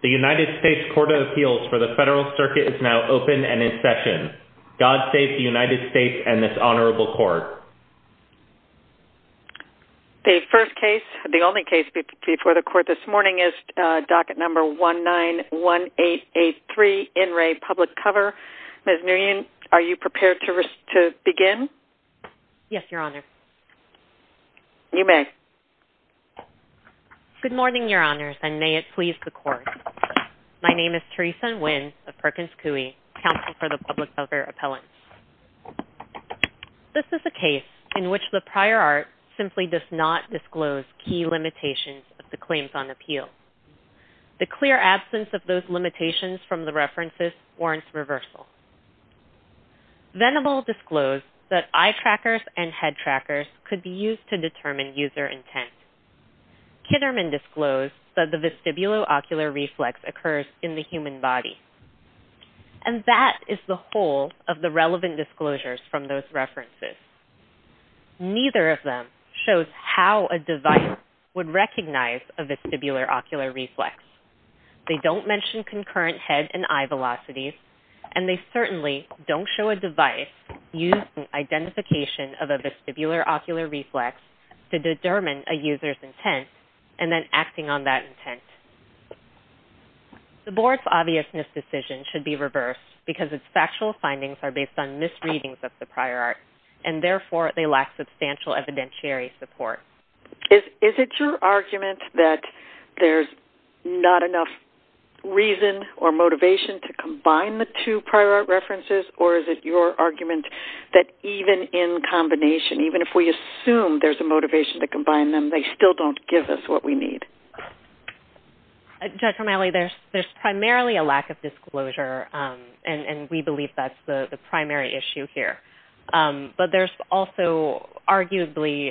The United States Court of Appeals for the Federal Circuit is now open and in session. God save the United States and this honorable court. The first case, the only case before the court this morning is docket number 191883, In Re Publicover. Ms. Nguyen, are you prepared to begin? Yes, Your Honor. You may. Good morning, Your Honors, and may it please the court. My name is Theresa Nguyen of Perkins Coie, Counsel for the Publicover Appellants. This is a case in which the prior art simply does not disclose key limitations of the claims on appeal. The clear absence of those limitations from the references warrants reversal. Venable disclosed that eye trackers and head trackers could be used to determine user intent. Kitterman disclosed that the vestibulo-ocular reflex occurs in the human body. And that is the whole of the relevant disclosures from those references. Neither of them shows how a device would recognize a vestibulo-ocular reflex. They don't mention concurrent head and eye velocities. And they certainly don't show a device using identification of a vestibulo-ocular reflex to determine a user's intent and then acting on that intent. The board's obviousness decision should be reversed because its factual findings are based on misreadings of the prior art. And therefore, they lack substantial evidentiary support. Is it your argument that there's not enough reason or motivation to combine the two prior art references? Or is it your argument that even in combination, even if we assume there's a motivation to combine them, they still don't give us what we need? Dr. Malley, there's primarily a lack of disclosure. And we believe that's the primary issue here. But there's also arguably,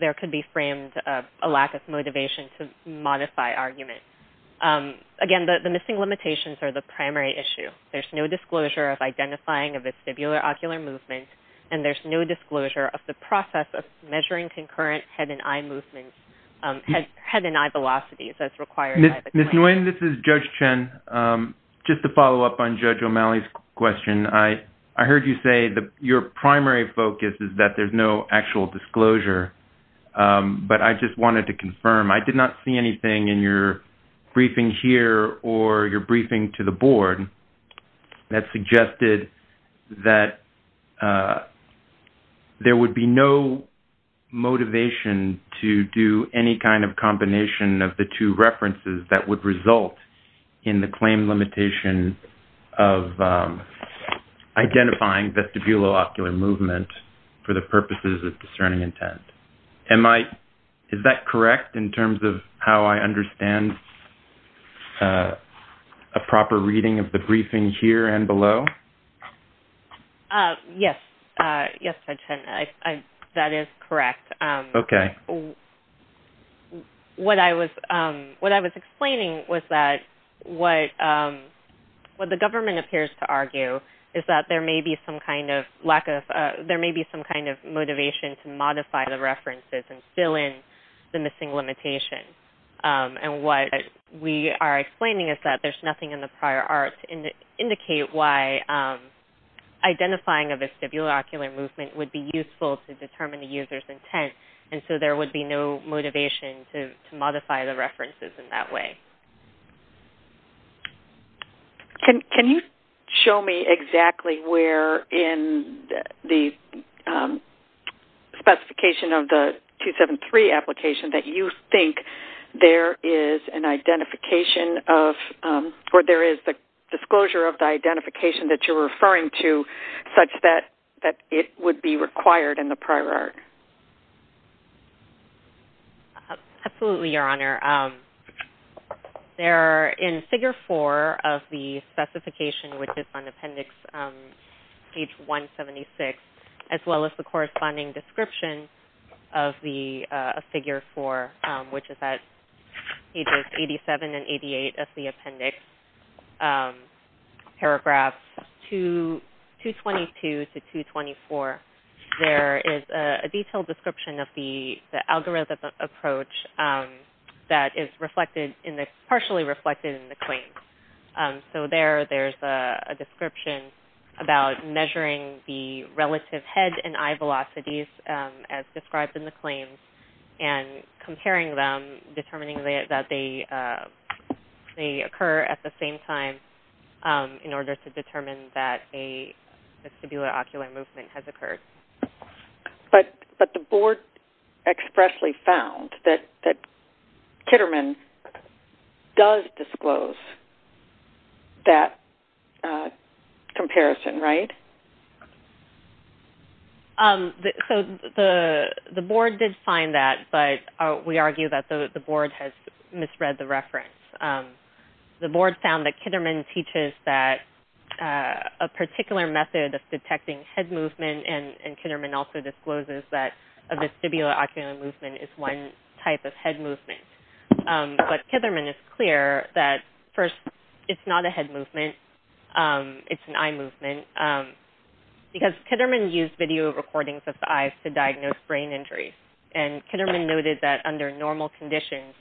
there could be framed a lack of motivation to modify argument. Again, the missing limitations are the primary issue. There's no disclosure of identifying a vestibulo-ocular movement. And there's no disclosure of the process of measuring concurrent head and eye movements, head and eye velocities as required. Ms. Nguyen, this is Judge Chen. Just to follow up on Judge O'Malley's question. I heard you say your primary focus is that there's no actual disclosure. But I just wanted to confirm. I did not see anything in your briefing here or your briefing to the board that suggested that there would be no motivation to do any kind of combination of the two references that would result in the claim limitation of identifying vestibulo-ocular movement for the purposes of discerning intent. Is that correct in terms of how I understand a proper reading of the briefing here and below? Yes, Judge Chen. That is correct. What I was explaining was that what the government appears to argue is that there may be some kind of motivation to modify the references and fill in the missing limitations. And what we are explaining is that there's nothing in the prior art to indicate why identifying a vestibulo-ocular movement would be useful to determine the user's intent. And so there would be no motivation to modify the references in that way. Can you show me exactly where in the specification of the 273 application that you think there is the disclosure of the identification that you're referring to such that it would be required in the prior art? Absolutely, Your Honor. There in Figure 4 of the specification, which is on Appendix 176, as well as the corresponding description of Figure 4, which is at pages 87 and 88 of the appendix, paragraphs 222 to 224, there is a detailed description of the algorithm approach that is partially reflected in the claims. So there, there's a description about measuring the relative head and eye velocities as described in the claims and comparing them, determining that they occur at the same time in order to determine that a vestibulo-ocular movement has occurred. But the board expressly found that Kitterman does disclose that comparison, right? So the board did find that, but we argue that the board has misread the reference. The board found that Kitterman teaches that a particular method of detecting head movement and Kitterman also discloses that a vestibulo-ocular movement is one type of head movement. But Kitterman is clear that, first, it's not a head movement, it's an eye movement, because Kitterman used video recordings of the eyes to diagnose brain injuries. And Kitterman noted that under normal conditions,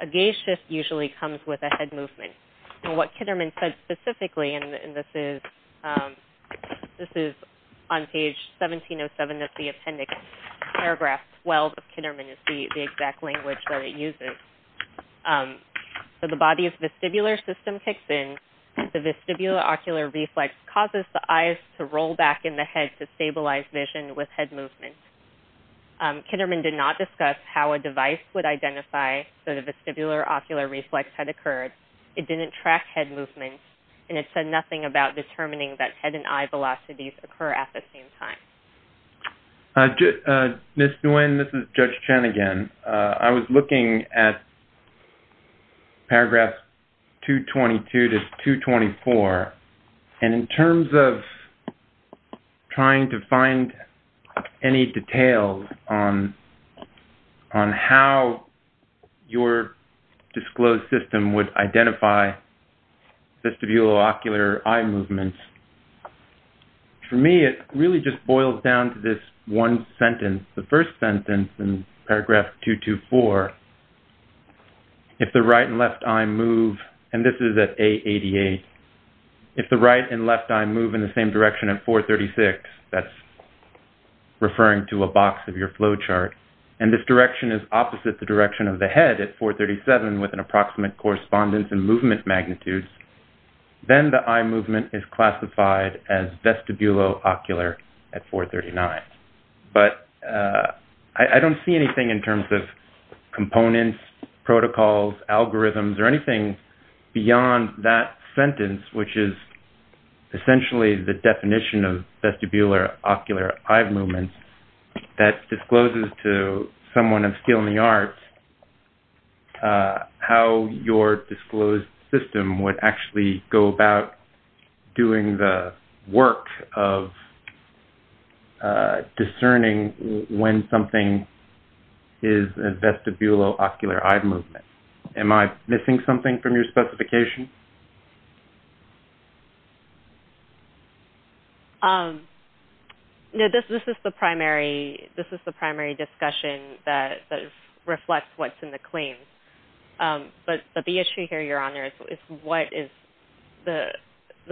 a gaze shift usually comes with a head movement. And what Kitterman said specifically, and this is on page 1707 of the appendix, paragraph 12 of Kitterman is the exact language that it uses. So the body's vestibular system kicks in, the vestibulo-ocular reflex causes the eyes to roll back in the head to stabilize vision with head movement. Kitterman did not discuss how a device would identify that a vestibular-ocular reflex had occurred. It didn't track head movement, and it said nothing about determining that head and eye velocities occur at the same time. Ms. Nguyen, this is Judge Chen again. I was looking at paragraphs 222 to 224, and in terms of trying to find any details on how your disclosed system would identify vestibulo-ocular eye movements, for me it really just boils down to this one sentence, the first sentence in paragraph 224. If the right and left eye move, and this is at A88, if the right and left eye move in the same direction at 436, that's referring to a box of your flow chart, and this direction is opposite the direction of the head at 437 with an approximate correspondence and movement magnitudes, then the eye movement is classified as vestibulo-ocular at 439. But I don't see anything in terms of components, protocols, algorithms, or anything beyond that sentence, which is essentially the definition of vestibular-ocular eye movement that discloses to someone of skill in the arts how your disclosed system would actually go about doing the work of discerning when something is a vestibulo-ocular eye movement. Am I missing something from your specification? No, this is the primary discussion that reflects what's in the claims. But the issue here, Your Honor, is what is the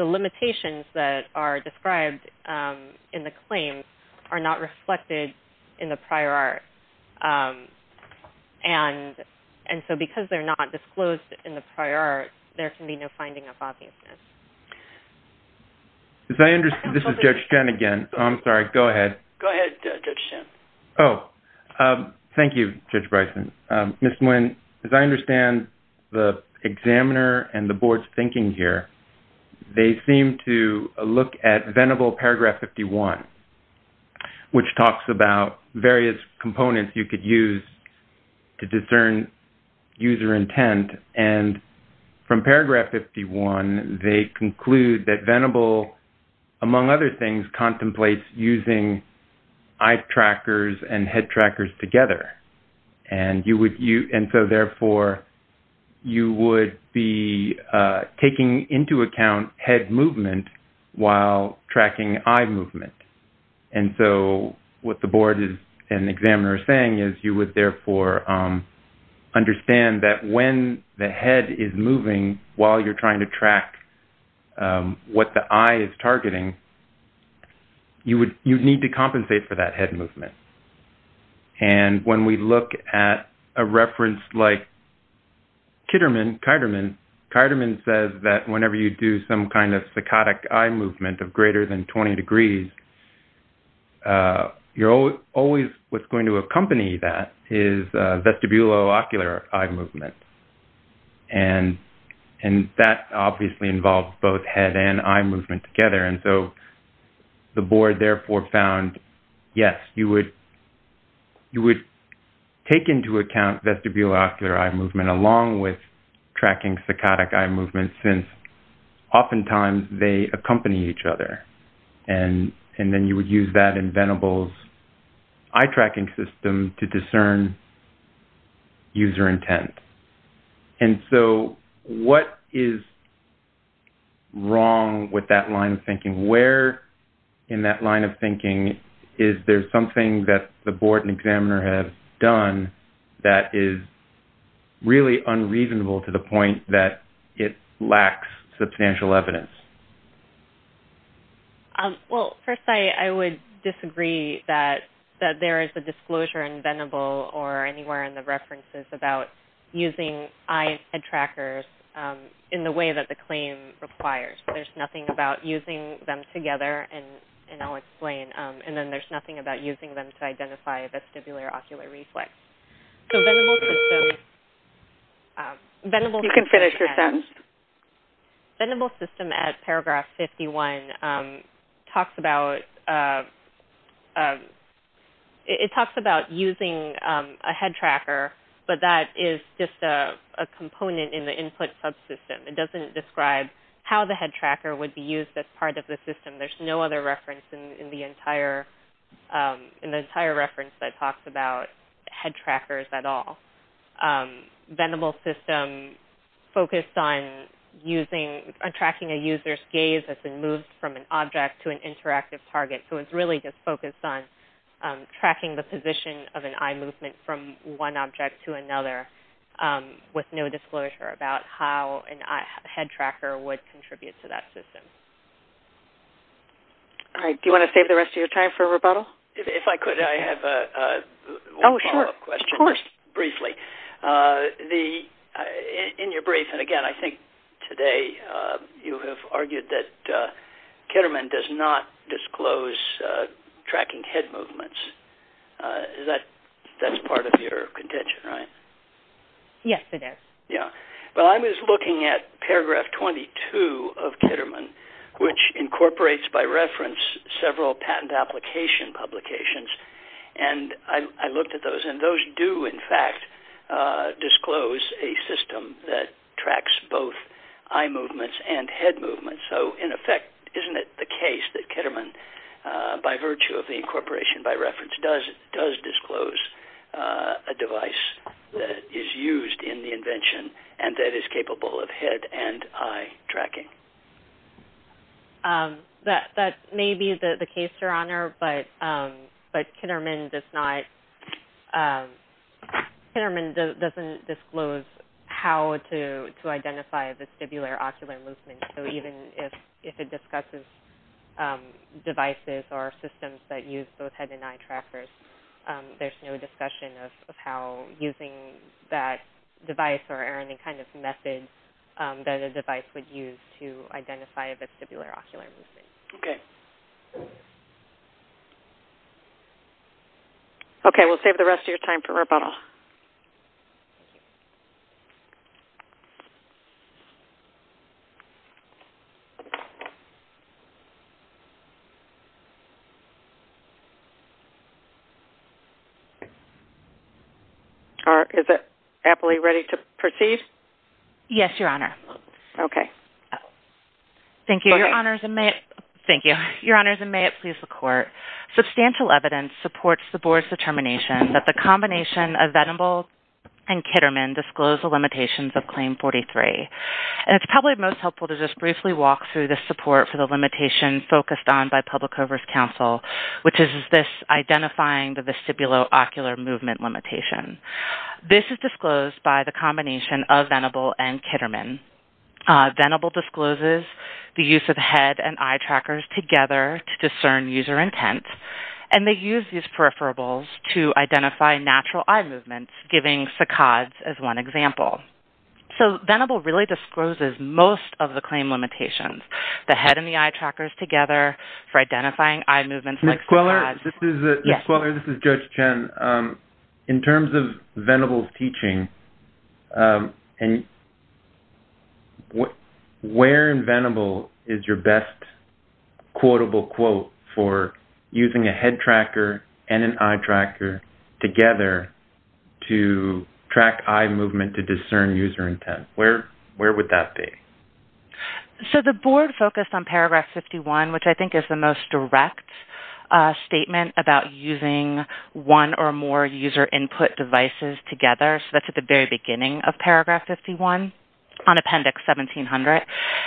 limitations that are described in the claims are not reflected in the prior art. And so because they're not disclosed in the prior art, there can be no finding of obviousness. This is Judge Chen again. I'm sorry, go ahead. Go ahead, Judge Chen. Oh, thank you, Judge Bryson. Ms. Nguyen, as I understand the examiner and the board's thinking here, they seem to look at Venable paragraph 51, which talks about various components you could use to discern user intent. And from paragraph 51, they conclude that Venable, among other things, contemplates using eye trackers and head trackers together. And so therefore, you would be taking into account head movement while tracking eye movement. And so what the board and examiner are saying is you would therefore understand that when the head is moving while you're trying to track what the eye is targeting, you need to compensate for that head movement. And when we look at a reference like Kiderman, Kiderman says that whenever you do some kind of psychotic eye movement of greater than 20 degrees, what's going to accompany that is vestibulo-ocular eye movement. And that obviously involves both head and eye movement together. And so the board therefore found, yes, you would take into account vestibulo-ocular eye movement along with tracking psychotic eye movement since oftentimes they accompany each other. And then you would use that in Venable's eye tracking system to discern user intent. And so what is wrong with that line of thinking? Where in that line of thinking is there something that the board and examiner have done that is really unreasonable to the point that it lacks substantial evidence? Well, first I would disagree that there is a disclosure in Venable or anywhere in the references about using eye and head trackers in the way that the claim requires. There's nothing about using them together, and I'll explain. And then there's nothing about using them to identify vestibulo-ocular reflex. So Venable's system... You can finish your sentence. Venable's system at paragraph 51 talks about using a head tracker, but that is just a component in the input subsystem. It doesn't describe how the head tracker would be used as part of the system. There's no other reference in the entire reference that talks about head trackers at all. Venable's system focused on tracking a user's gaze as it moves from an object to an interactive target. So it's really just focused on tracking the position of an eye movement from one object to another with no disclosure about how a head tracker would contribute to that system. All right. Do you want to save the rest of your time for rebuttal? If I could, I have one follow-up question, just briefly. In your brief, and again, I think today you have argued that Ketterman does not disclose tracking head movements. That's part of your contention, right? Yes, it is. I was looking at paragraph 22 of Ketterman, which incorporates by reference several patent application publications. I looked at those, and those do, in fact, disclose a system that tracks both eye movements and head movements. So, in effect, isn't it the case that Ketterman, by virtue of the incorporation by reference, does disclose a device that is used in the invention and that is capable of head and eye tracking? That may be the case, Your Honor, but Ketterman doesn't disclose how to identify vestibular-ocular movements. So, even if it discusses devices or systems that use both head and eye trackers, there's no discussion of how using that device or any kind of method that a device would use to identify a vestibular-ocular movement. Okay. Okay, we'll save the rest of your time for rebuttal. Is it aptly ready to proceed? Yes, Your Honor. Okay. Thank you. Your Honors, and may it please the Court, substantial evidence supports the Board's determination that the combination of Venable and Ketterman disclose the limitations of Claim 43. And it's probably most helpful to just briefly walk through the support for the limitation focused on by Public Coverage Counsel, which is this identifying the vestibular-ocular movement limitation. This is disclosed by the combination of Venable and Ketterman. Venable discloses the use of head and eye trackers together to discern user intent, and they use these peripherables to identify natural eye movements, giving saccades as one example. So, Venable really discloses most of the claim limitations, the head and the eye trackers together for identifying eye movements like saccades. Ms. Queller, this is Judge Chen. In terms of Venable's teaching, where in Venable is your best quotable quote for using a head tracker and an eye tracker together to track eye movement to discern user intent? Where would that be? So, the Board focused on Paragraph 51, which I think is the most direct statement about using one or more user input devices together. So, that's at the very beginning of Paragraph 51 on Appendix 1700.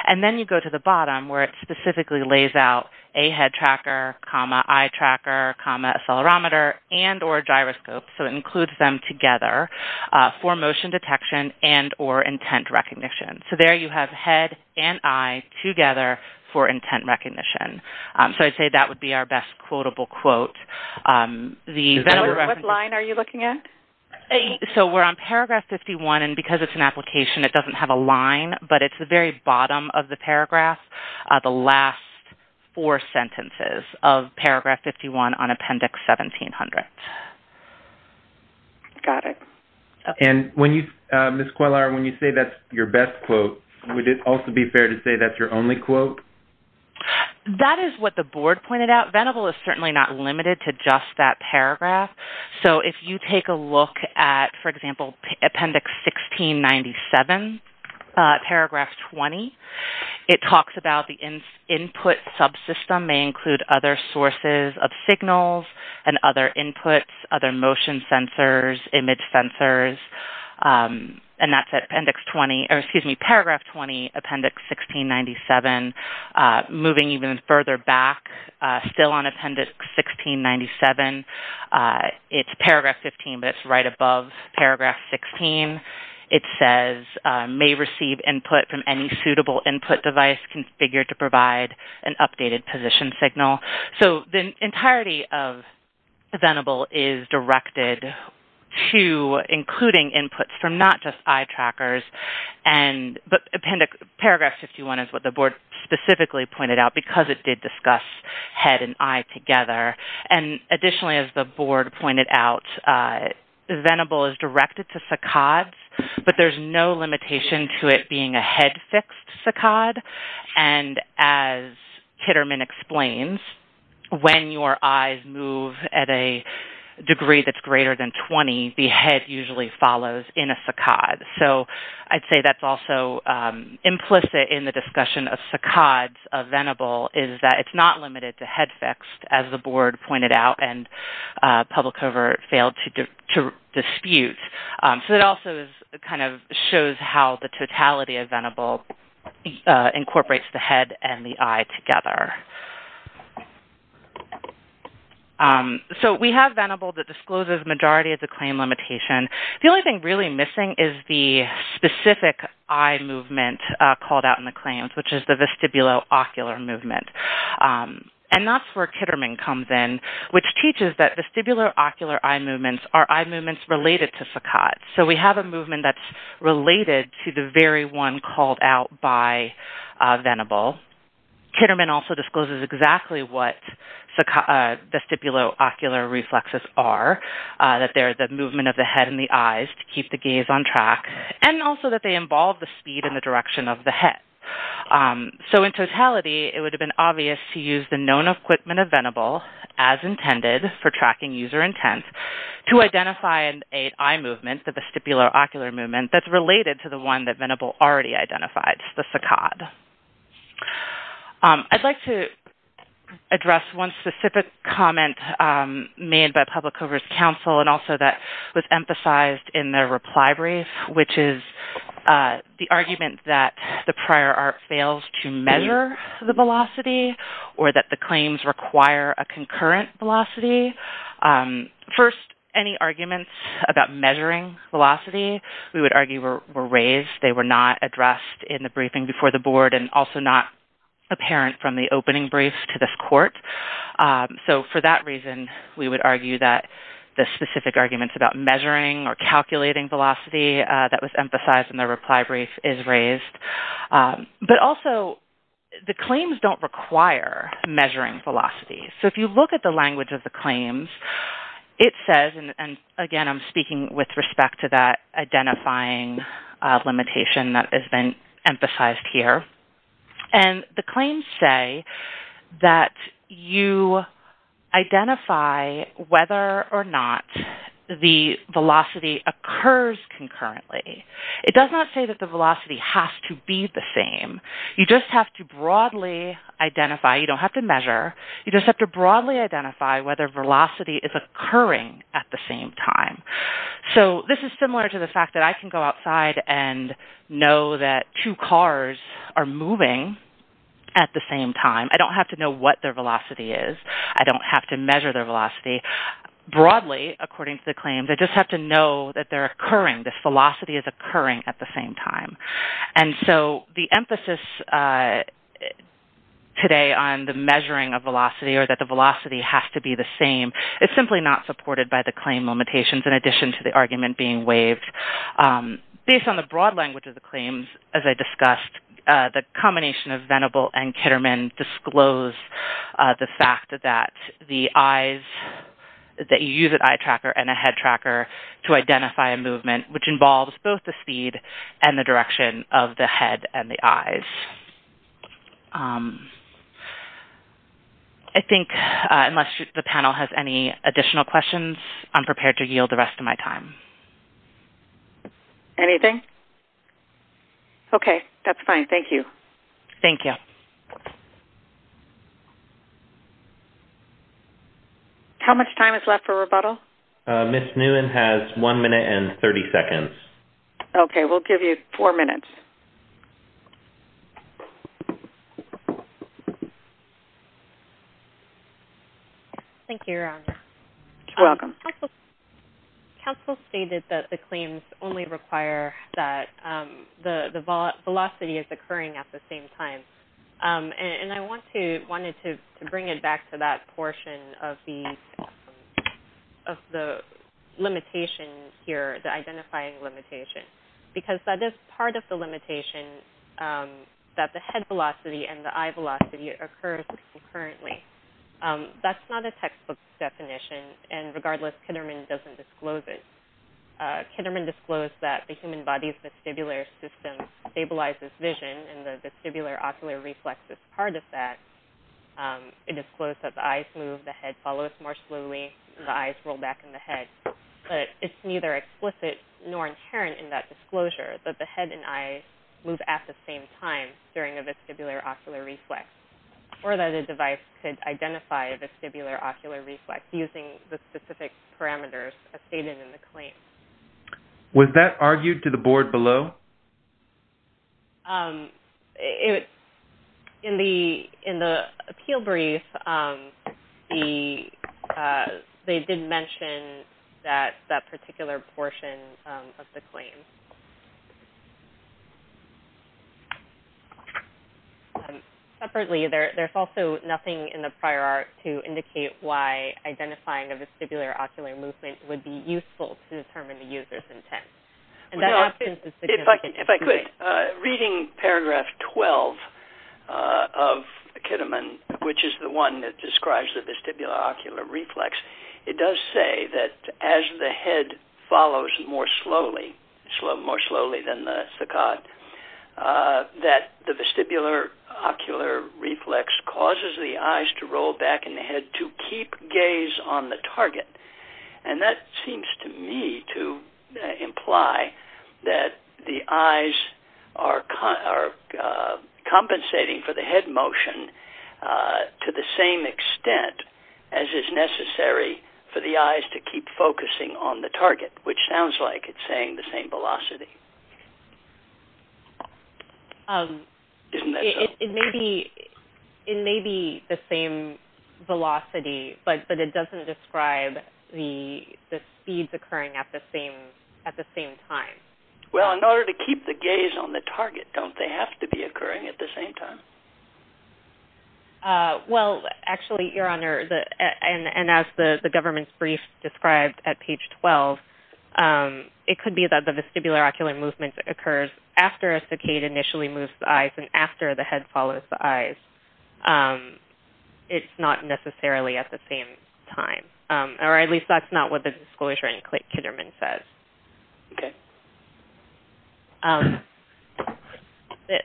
And then you go to the bottom where it specifically lays out a head tracker, eye tracker, accelerometer, and or gyroscope. So, it includes them together for motion detection and or intent recognition. So, there you have head and eye together for intent recognition. So, I'd say that would be our best quotable quote. What line are you looking at? So, we're on Paragraph 51, and because it's an application, it doesn't have a line, but it's the very bottom of the paragraph, the last four sentences of Paragraph 51 on Appendix 1700. Got it. Ms. Cuellar, when you say that's your best quote, would it also be fair to say that's your only quote? That is what the Board pointed out. Venable is certainly not limited to just that paragraph. So, if you take a look at, for example, Appendix 1697, Paragraph 20, it talks about the input subsystem may include other sources of signals and other inputs, other motion sensors, image sensors. And that's at Paragraph 20, Appendix 1697. Moving even further back, still on Appendix 1697, it's Paragraph 15, but it's right above Paragraph 16. It says, may receive input from any suitable input device configured to provide an updated position signal. So, the entirety of Venable is directed to including inputs from not just eye trackers, but Paragraph 51 is what the Board specifically pointed out because it did discuss head and eye together. Additionally, as the Board pointed out, Venable is directed to saccades, but there's no limitation to it being a head-fixed saccade. And as Titterman explains, when your eyes move at a degree that's greater than 20, the head usually follows in a saccade. So, I'd say that's also implicit in the discussion of saccades of Venable is that it's not limited to head-fixed, as the Board pointed out and Public Cover failed to dispute. So, it also kind of shows how the totality of Venable incorporates the head and the eye together. So, we have Venable that discloses the majority of the claim limitation. The only thing really missing is the specific eye movement called out in the claims, which is the vestibulo-ocular movement. And that's where Titterman comes in, which teaches that vestibulo-ocular eye movements are eye movements related to saccades. So, we have a movement that's related to the very one called out by Venable. Titterman also discloses exactly what vestibulo-ocular reflexes are, that they're the movement of the head and the eyes to keep the gaze on track, and also that they involve the speed and the direction of the head. So, in totality, it would have been obvious to use the known equipment of Venable, as intended for tracking user intent, to identify an eye movement, the vestibulo-ocular movement, that's related to the one that Venable already identified, the saccade. I'd like to address one specific comment made by Public Coverage Council, and also that was emphasized in their reply brief, which is the argument that the prior art fails to measure the velocity, or that the claims require a concurrent velocity. First, any arguments about measuring velocity, we would argue, were raised. They were not addressed in the briefing before the board, and also not apparent from the opening briefs to this court. So, for that reason, we would argue that the specific arguments about measuring or calculating velocity that was emphasized in the reply brief is raised. But also, the claims don't require measuring velocity. So, if you look at the language of the claims, it says, and again, I'm speaking with respect to that identifying limitation that has been emphasized here. And the claims say that you identify whether or not the velocity occurs concurrently. It does not say that the velocity has to be the same. You just have to broadly identify. You don't have to measure. You just have to broadly identify whether velocity is occurring at the same time. So, this is similar to the fact that I can go outside and know that two cars are moving at the same time. I don't have to know what their velocity is. I don't have to measure their velocity. Broadly, according to the claims, I just have to know that they're occurring, that velocity is occurring at the same time. And so, the emphasis today on the measuring of velocity or that the velocity has to be the same, it's simply not supported by the claim limitations in addition to the argument being waived. Based on the broad language of the claims, as I discussed, the combination of Venable and Kitterman disclose the fact that the eyes, that you use an eye tracker and a head tracker to identify a movement, which involves both the speed and the direction of the head and the eyes. I think, unless the panel has any additional questions, I'm prepared to yield the rest of my time. Anything? Okay. That's fine. Thank you. Thank you. How much time is left for rebuttal? Ms. Nguyen has one minute and 30 seconds. Okay. We'll give you four minutes. Thank you, Your Honor. You're welcome. Counsel stated that the claims only require that the velocity is occurring at the same time. And I wanted to bring it back to that portion of the limitation here, the identifying limitation, because that is part of the limitation that the head velocity and the eye velocity occurs concurrently. That's not a textbook definition. And regardless, Kitterman doesn't disclose it. Kitterman disclosed that the human body's vestibular system stabilizes vision and the vestibular ocular reflex is part of that. It disclosed that the eyes move, the head follows more slowly, the eyes roll back in the head. But it's neither explicit nor inherent in that disclosure that the head and eyes move at the same time during a vestibular ocular reflex or that a device could identify a vestibular ocular reflex using the specific parameters as stated in the claim. Was that argued to the board below? In the appeal brief, they did mention that particular portion of the claim. Separately, there's also nothing in the prior art to indicate why identifying a vestibular ocular movement would be useful to determine the user's intent. If I could, reading paragraph 12 of Kitterman, which is the one that describes the vestibular ocular reflex, it does say that as the head follows more slowly, more slowly than the saccade, that the vestibular ocular reflex causes the eyes to roll back in the head to keep gaze on the target. And that seems to me to imply that the eyes are compensating for the head motion to the same extent as is necessary for the eyes to keep focusing on the target, which sounds like it's saying the same velocity. Isn't that so? It may be the same velocity, but it doesn't describe the speeds occurring at the same time. Well, in order to keep the gaze on the target, don't they have to be occurring at the same time? Well, actually, Your Honor, and as the government's brief described at page 12, it could be that the vestibular ocular movement occurs after a saccade initially moves the eyes and after the head follows the eyes. It's not necessarily at the same time, or at least that's not what the disclosure in Kitterman says. Okay.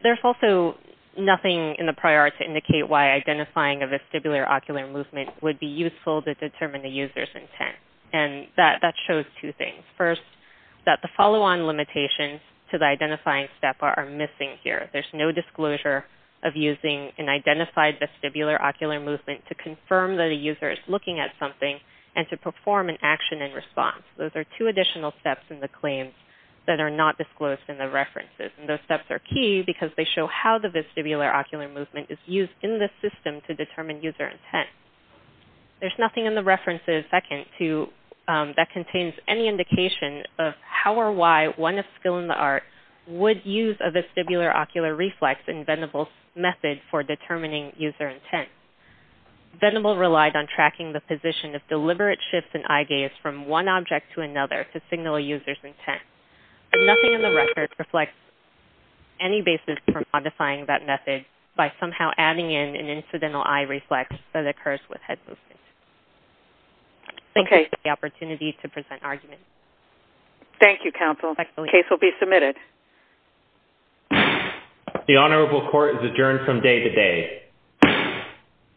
There's also nothing in the prior to indicate why identifying a vestibular ocular movement would be useful to determine the user's intent. And that shows two things. First, that the follow-on limitations to the identifying step are missing here. There's no disclosure of using an identified vestibular ocular movement to confirm that a user is looking at something and to perform an action in response. Those are two additional steps in the claims that are not disclosed in the references. And those steps are key because they show how the vestibular ocular movement is used in the system to determine user intent. There's nothing in the references second to that contains any indication of how or why one of skill in the art would use a vestibular ocular reflex in Venable's method for determining user intent. Venable relied on tracking the position of deliberate shifts in eye gaze from one object to another to signal a user's intent. Nothing in the record reflects any basis for modifying that method by somehow adding in an incidental eye reflex that occurs with head movement. Okay. Thank you for the opportunity to present arguments. Thank you, counsel. The case will be submitted. The honorable court is adjourned from day to day.